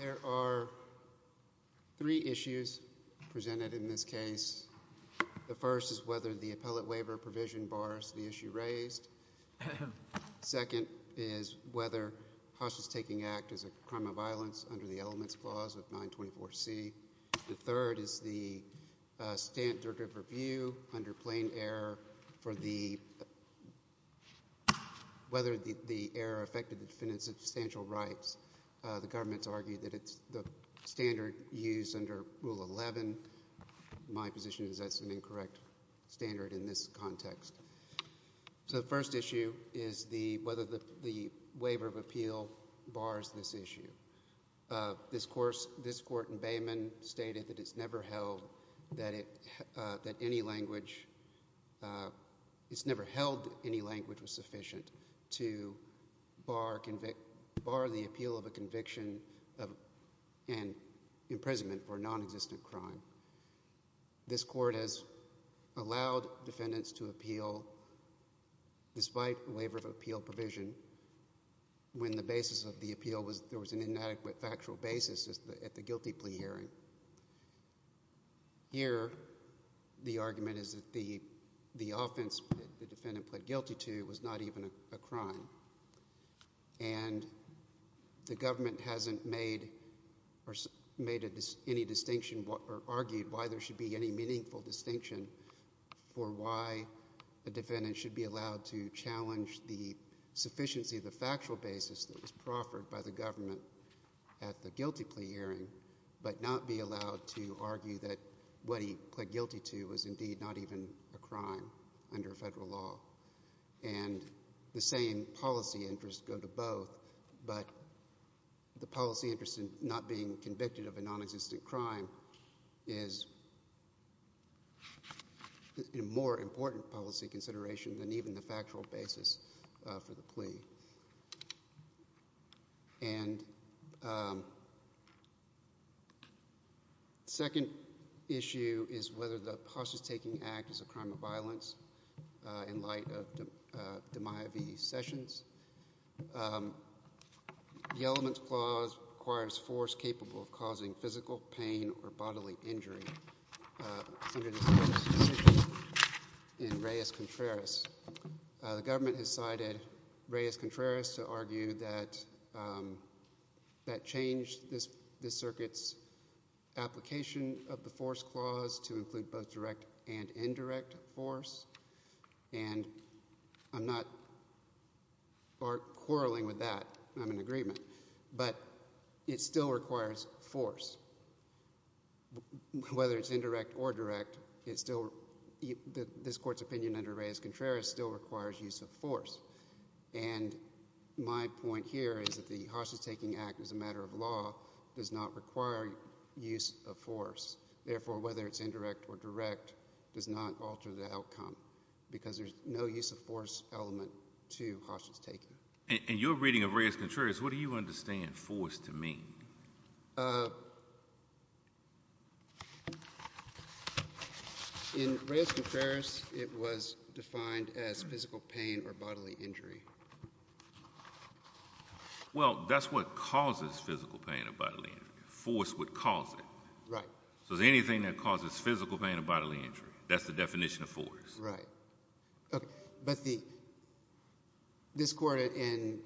There are three issues presented in this case. The first is whether the appellate waiver provision bars the issue raised. Second is whether hostages taking act is a crime of standard of review under plain error for the—whether the error affected the defendant's substantial rights. The government's argued that it's the standard used under Rule 11. My position is that's an incorrect standard in this context. So the first issue is whether the waiver of appeal bars this issue. This court in Bayman stated that it's never held that any language—it's never held any language was sufficient to bar the appeal of a conviction of an imprisonment for non-existent crime. This court has allowed defendants to appeal despite waiver of appeal provision when the basis of the appeal was—there was an inadequate factual basis at the guilty plea hearing. Here, the argument is that the offense the defendant pled guilty to was not even a crime. And the government hasn't made or made any distinction or argued why there should be any meaningful distinction for why a defendant should be allowed to challenge the sufficiency of the factual basis that was proffered by the government at the guilty plea hearing, but not be allowed to argue that what he pled guilty to was indeed not even a crime under federal law. And the same policy interests go to both, but the policy interest in not being convicted of a non-existent crime is a more important policy consideration than even the factual basis for the plea. And the second issue is whether the hostage-taking act is a crime of violence in light of DiMaio v. Sessions. The elements clause requires force capable of causing physical pain or injury. It's under the Sessions decision in Reyes-Contreras. The government has cited Reyes-Contreras to argue that that changed this circuit's application of the force clause to include both direct and indirect force, and I'm not quarreling with that. I'm in agreement. But it still requires force. Whether it's indirect or direct, it still, this court's opinion under Reyes-Contreras still requires use of force. And my point here is that the hostage-taking act as a matter of law does not require use of force. Therefore, whether it's indirect or direct does not alter the outcome because there's no use of force element to hostage-taking. And in your reading of Reyes-Contreras, what do you understand force to mean? In Reyes-Contreras, it was defined as physical pain or bodily injury. Well, that's what causes physical pain or bodily injury. Force would cause it. Right. So anything that causes physical pain or bodily injury, that's the definition of force. Right. But this court in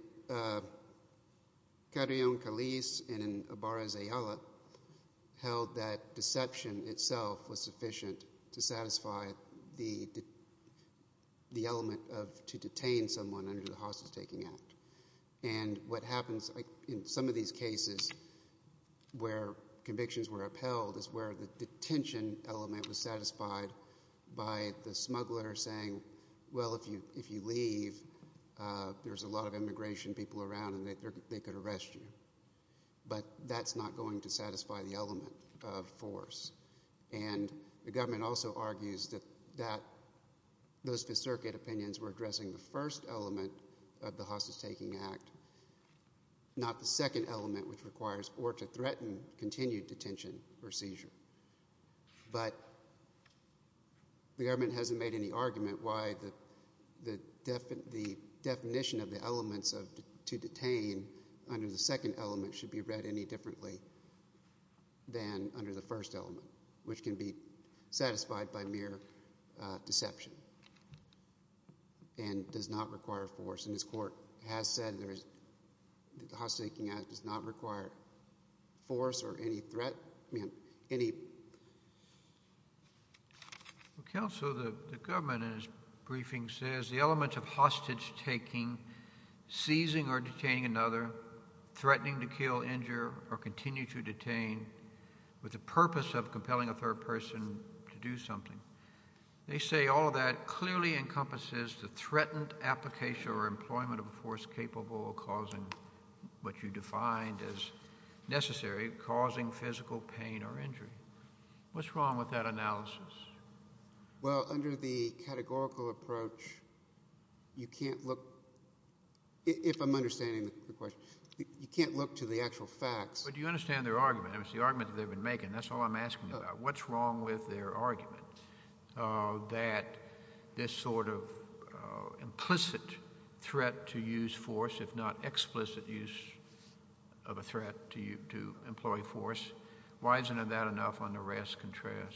Carillon Caliz and in Obarra-Zayala held that deception itself was sufficient to satisfy the element of to detain someone under the hostage-taking act. And what happens in some of these cases where convictions were upheld is where the detention element was satisfied by the smuggler saying, well, if you leave, there's a lot of immigration people around and they could arrest you. But that's not going to satisfy the element of force. And the government also argues that those circuit opinions were addressing the first element of the hostage-taking act, not the second element, which requires or to threaten continued detention or seizure. But the government hasn't made any argument why the definition of the elements of to detain under the second element should be read any differently than under the first element, which can be satisfied by mere deception and does not require force. And this court has said there is, the hostage-taking act does not require force or any threat, I mean, any... Counsel, the government in his briefing says the elements of hostage-taking, seizing or detaining another, threatening to kill, injure, or continue to detain with the purpose of compelling a third person to do something. They say all of that clearly encompasses the deployment of a force capable of causing what you defined as necessary, causing physical pain or injury. What's wrong with that analysis? Well, under the categorical approach, you can't look, if I'm understanding the question, you can't look to the actual facts. But do you understand their argument? I mean, it's the argument that they've been making. That's all I'm asking about. What's wrong with their argument that this sort of implicit threat to use force, if not explicit use of a threat to employee force, why isn't that enough under Reyes-Contreras?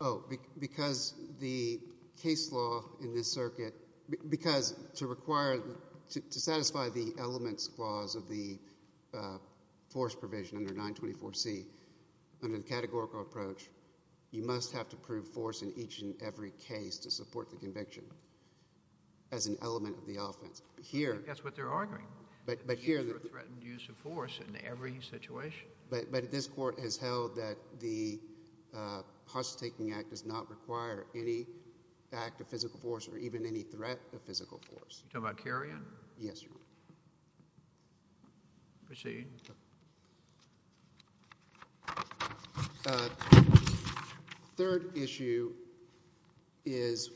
Oh, because the case law in this circuit, because to require, to satisfy the elements clause of the force provision under 924C, under the categorical approach, you must have to prove force in each and every case to support the conviction as an element of the offense. Here— I think that's what they're arguing. But here— The use of a threatened use of force in every situation. But this Court has held that the Hush-Taking Act does not require any act of physical force or even any threat of physical force. You're talking about carrying? Yes, Your Honor. Proceed. The third issue is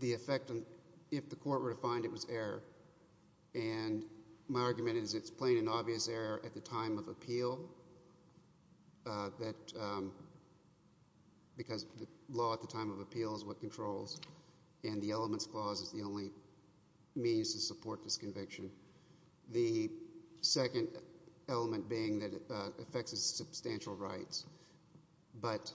the effect on—if the Court were to find it was error. And my argument is it's plain and obvious error at the time of appeal that—because the law at the time of appeal is what controls, and the elements clause is the only means to support this conviction. The second element being that it affects his substantial rights. But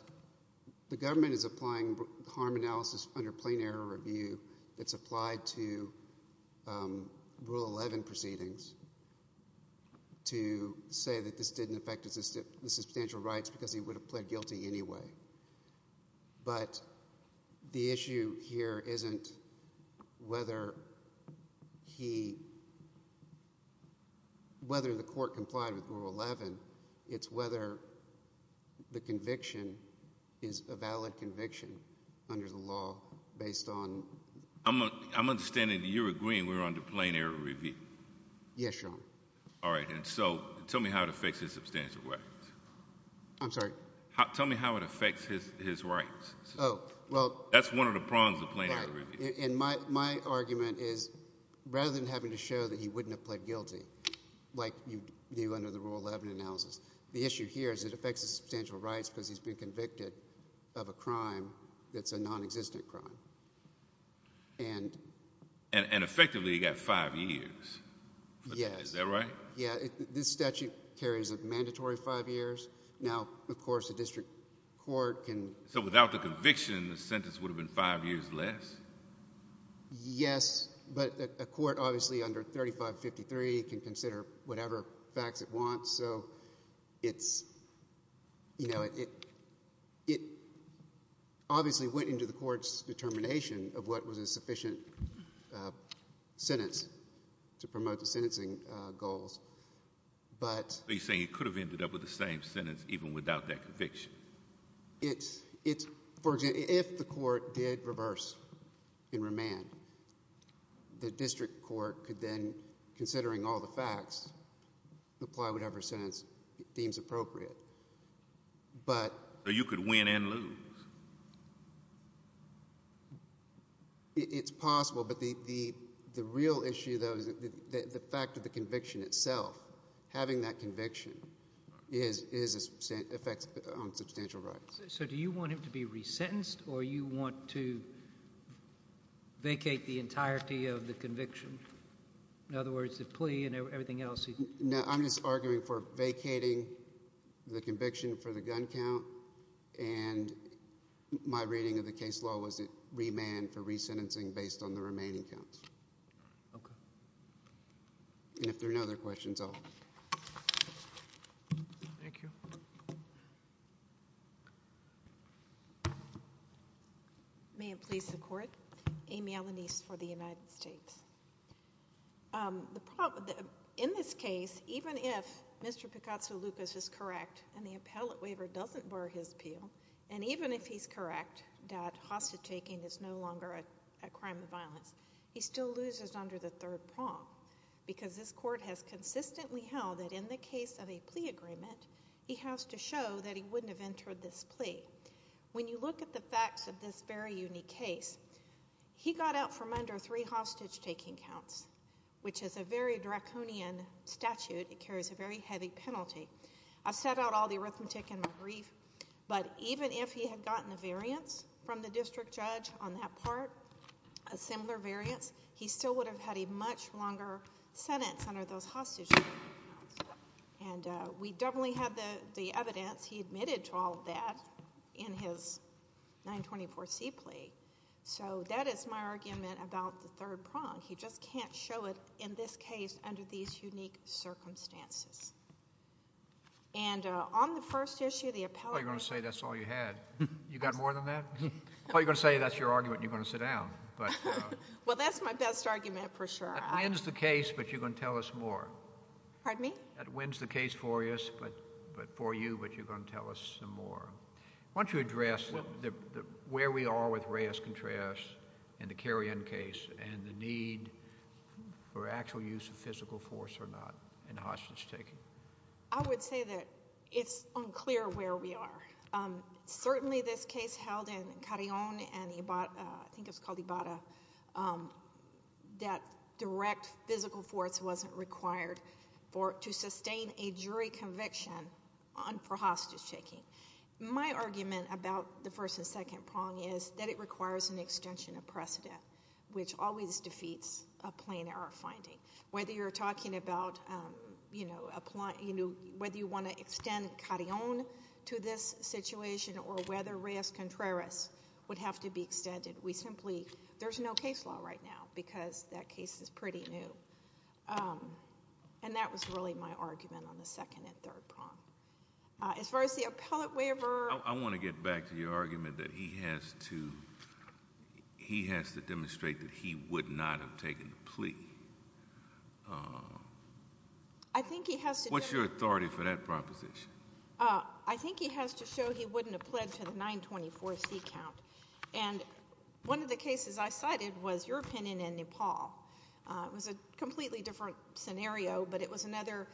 the government is applying harm analysis under plain error review. It's applied to Rule 11 proceedings to say that this didn't affect his substantial rights because he would have pled guilty anyway. But the issue here isn't whether he—whether the Court complied with Rule 11. It's whether the conviction is a valid conviction under the law based on— I'm understanding that you're agreeing we're under plain error review. Yes, Your Honor. All right. And so, tell me how it affects his substantial rights. I'm sorry? Tell me how it affects his rights. Oh, well— That's one of the prongs of plain error review. And my argument is rather than having to show that he wouldn't have pled guilty like you knew under the Rule 11 analysis, the issue here is it affects his substantial rights because he's been convicted of a crime that's a non-existent crime. And effectively, he got five years. Yes. Is that right? Yeah. This statute carries a mandatory five years. Now, of course, a district court can— So, without the conviction, the sentence would have been five years less? Yes. But a court, obviously, under 3553, can consider whatever facts it wants. So, it's—you know, it obviously went into the Court's determination of what was a sufficient sentence to promote the sentencing goals. But— So, you're saying it could have ended up with the same sentence even without that conviction? It's—for example, if the Court did reverse and remand, the district court could then, considering all the facts, apply whatever sentence it deems appropriate. But— So, you could win and lose? It's possible. But the real issue, though, is the fact of the conviction itself. Having that conviction is—affects substantial rights. So, do you want him to be resentenced or you want to vacate the entirety of the conviction? In other words, the plea and everything else? No, I'm just arguing for vacating the conviction for the gun count. And my reading of the case law was it remand for resentencing based on the remaining counts. Okay. And if there are no other questions, I'll— Thank you. May it please the Court. Amy Alanise for the United States. In this case, even if Mr. Picazzo-Lucas is correct, and the appellate waiver doesn't bar his appeal, and even if he's correct that hostage-taking is no longer a crime of violence, he still loses under the third prong. Because this Court has consistently held that in the case of a plea agreement, he has to show that he wouldn't have entered this plea. When you look at the facts of this very unique case, he got out from under three hostage-taking counts, which is a very draconian statute. It carries a very heavy penalty. I've set out all the arithmetic in my brief, but even if he had gotten a variance from the district judge on that part, a similar variance, he still would have had a much longer sentence under those hostage-taking counts. And we definitely have the evidence. He admitted to all of that in his 924C plea. So that is my argument about the third prong. He just can't show it in this case under these unique circumstances. And on the first issue, the appellate waiver... Well, you're going to say that's all you had. You got more than that? Well, you're going to say that's your argument, and you're going to sit down. Well, that's my best argument for sure. That wins the case, but you're going to tell us more. Pardon me? That wins the case for you, but you're going to tell us some more. Why don't you address where we are with Reyes-Contreras and the Carrion case, and the need for actual use of physical force or not in hostage-taking? I would say that it's unclear where we are. Certainly this case held in Carrion and I think it was called Ibarra, that direct physical force wasn't required to sustain a jury conviction for hostage-taking. My argument about the first and second prong is that it requires an extension of precedent, which always defeats a plain error finding. Whether you're talking about... whether you want to extend Carrion to this situation or whether Reyes-Contreras would have to be extended, we simply... There's no case law right now because that case is pretty new. And that was really my argument on the second and third prong. As far as the appellate waiver... I want to get back to your argument that he has to... he has to demonstrate that he would not have taken the plea. I think he has to... What's your authority for that proposition? I think he has to show he wouldn't have pledged to the 924C count. And one of the cases I cited was your opinion in Nepal. It was a completely different scenario, but it was another...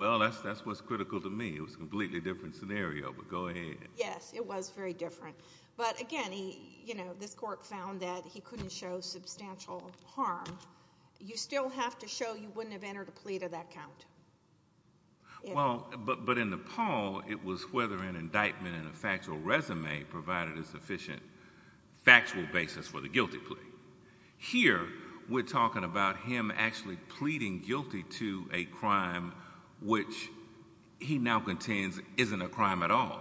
Well, that's what's critical to me. It was a completely different scenario, but go ahead. Yes, it was very different. But again, this court found that he couldn't show substantial harm. You still have to show you wouldn't have entered a plea to that count. Well, but in Nepal, it was whether an indictment and a factual resume provided a sufficient factual basis for the guilty plea. Here, we're talking about him actually pleading guilty to a crime which he now contains isn't a crime at all.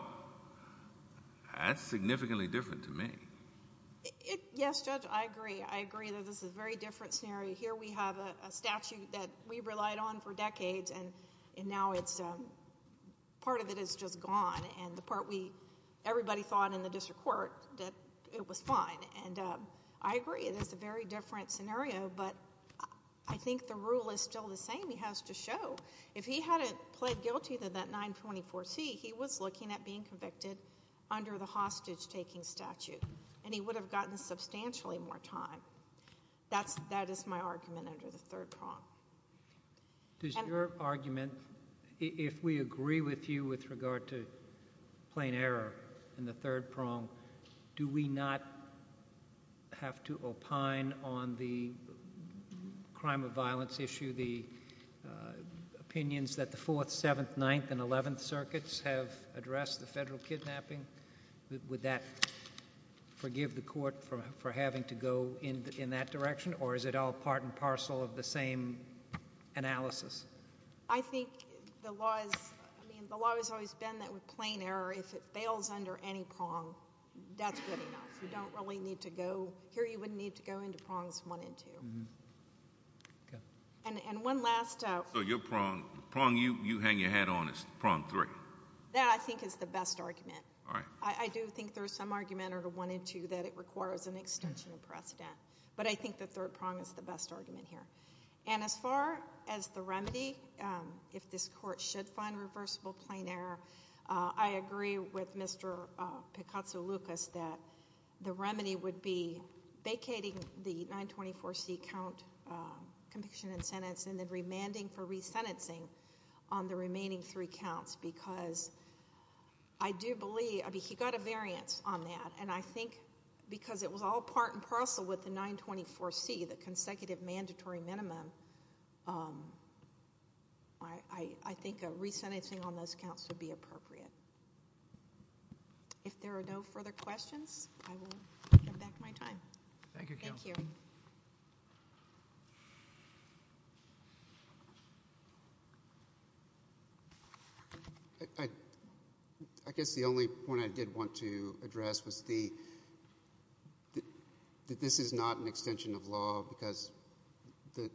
That's significantly different to me. Yes, Judge, I agree. I agree that this is a very different scenario. Here, we have a statute that we relied on for decades, and now it's... part of it is just gone. And the part we... everybody thought in the district court that it was fine. And I agree, it is a very different scenario. But I think the rule is still the same. He has to show. If he hadn't pled guilty to that 924C, he was looking at being convicted under the hostage-taking statute. And he would have gotten substantially more time. That is my argument under the third prong. Does your argument... if we agree with you with regard to plain error in the third prong, do we not have to opine on the crime of violence issue, the opinions that the 4th, 7th, 9th, and 11th circuits have addressed the federal kidnapping? Would that forgive the court for having to go in that direction? Or is it all part and parcel of the same analysis? I think the law is... I mean, the law has always been that with plain error, if it fails under any prong, that's good enough. You don't really need to go... here you wouldn't need to go into prongs 1 and 2. And one last... So your prong... the prong you hang your hat on is prong 3? That, I think, is the best argument. I do think there is some argument under 1 and 2 that it requires an extension of precedent. But I think the third prong is the best argument here. And as far as the remedy, if this court should find reversible plain error, I agree with Mr. Picazzo-Lucas that the remedy would be vacating the 924C count conviction and sentence and then remanding for resentencing on the remaining three counts because I do believe... I mean, he got a variance on that. And I think because it was all part and parcel with the 924C, the consecutive mandatory minimum, I think a resentencing on those counts would be appropriate. If there are no further questions, I will get back to my time. Thank you. Thank you. I guess the only point I did want to address was the... that this is not an extension of law because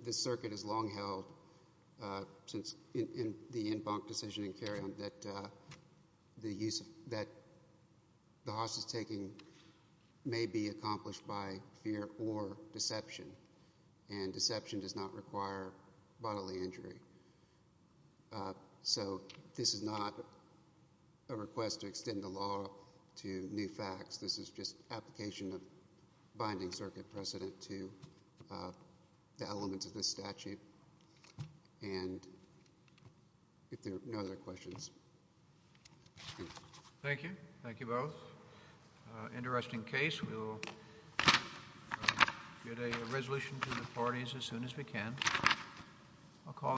the circuit is long held since the en banc decision in Carrion that the use of... that the hostage-taking may be accomplished by fear or deception. And deception does not require bodily injury. So this is not a request to extend the law to new facts. This is just application of binding circuit precedent to the elements of this statute. And if there are no other questions... Thank you. Thank you both. Interesting case. We will get a resolution to the parties as soon as we can.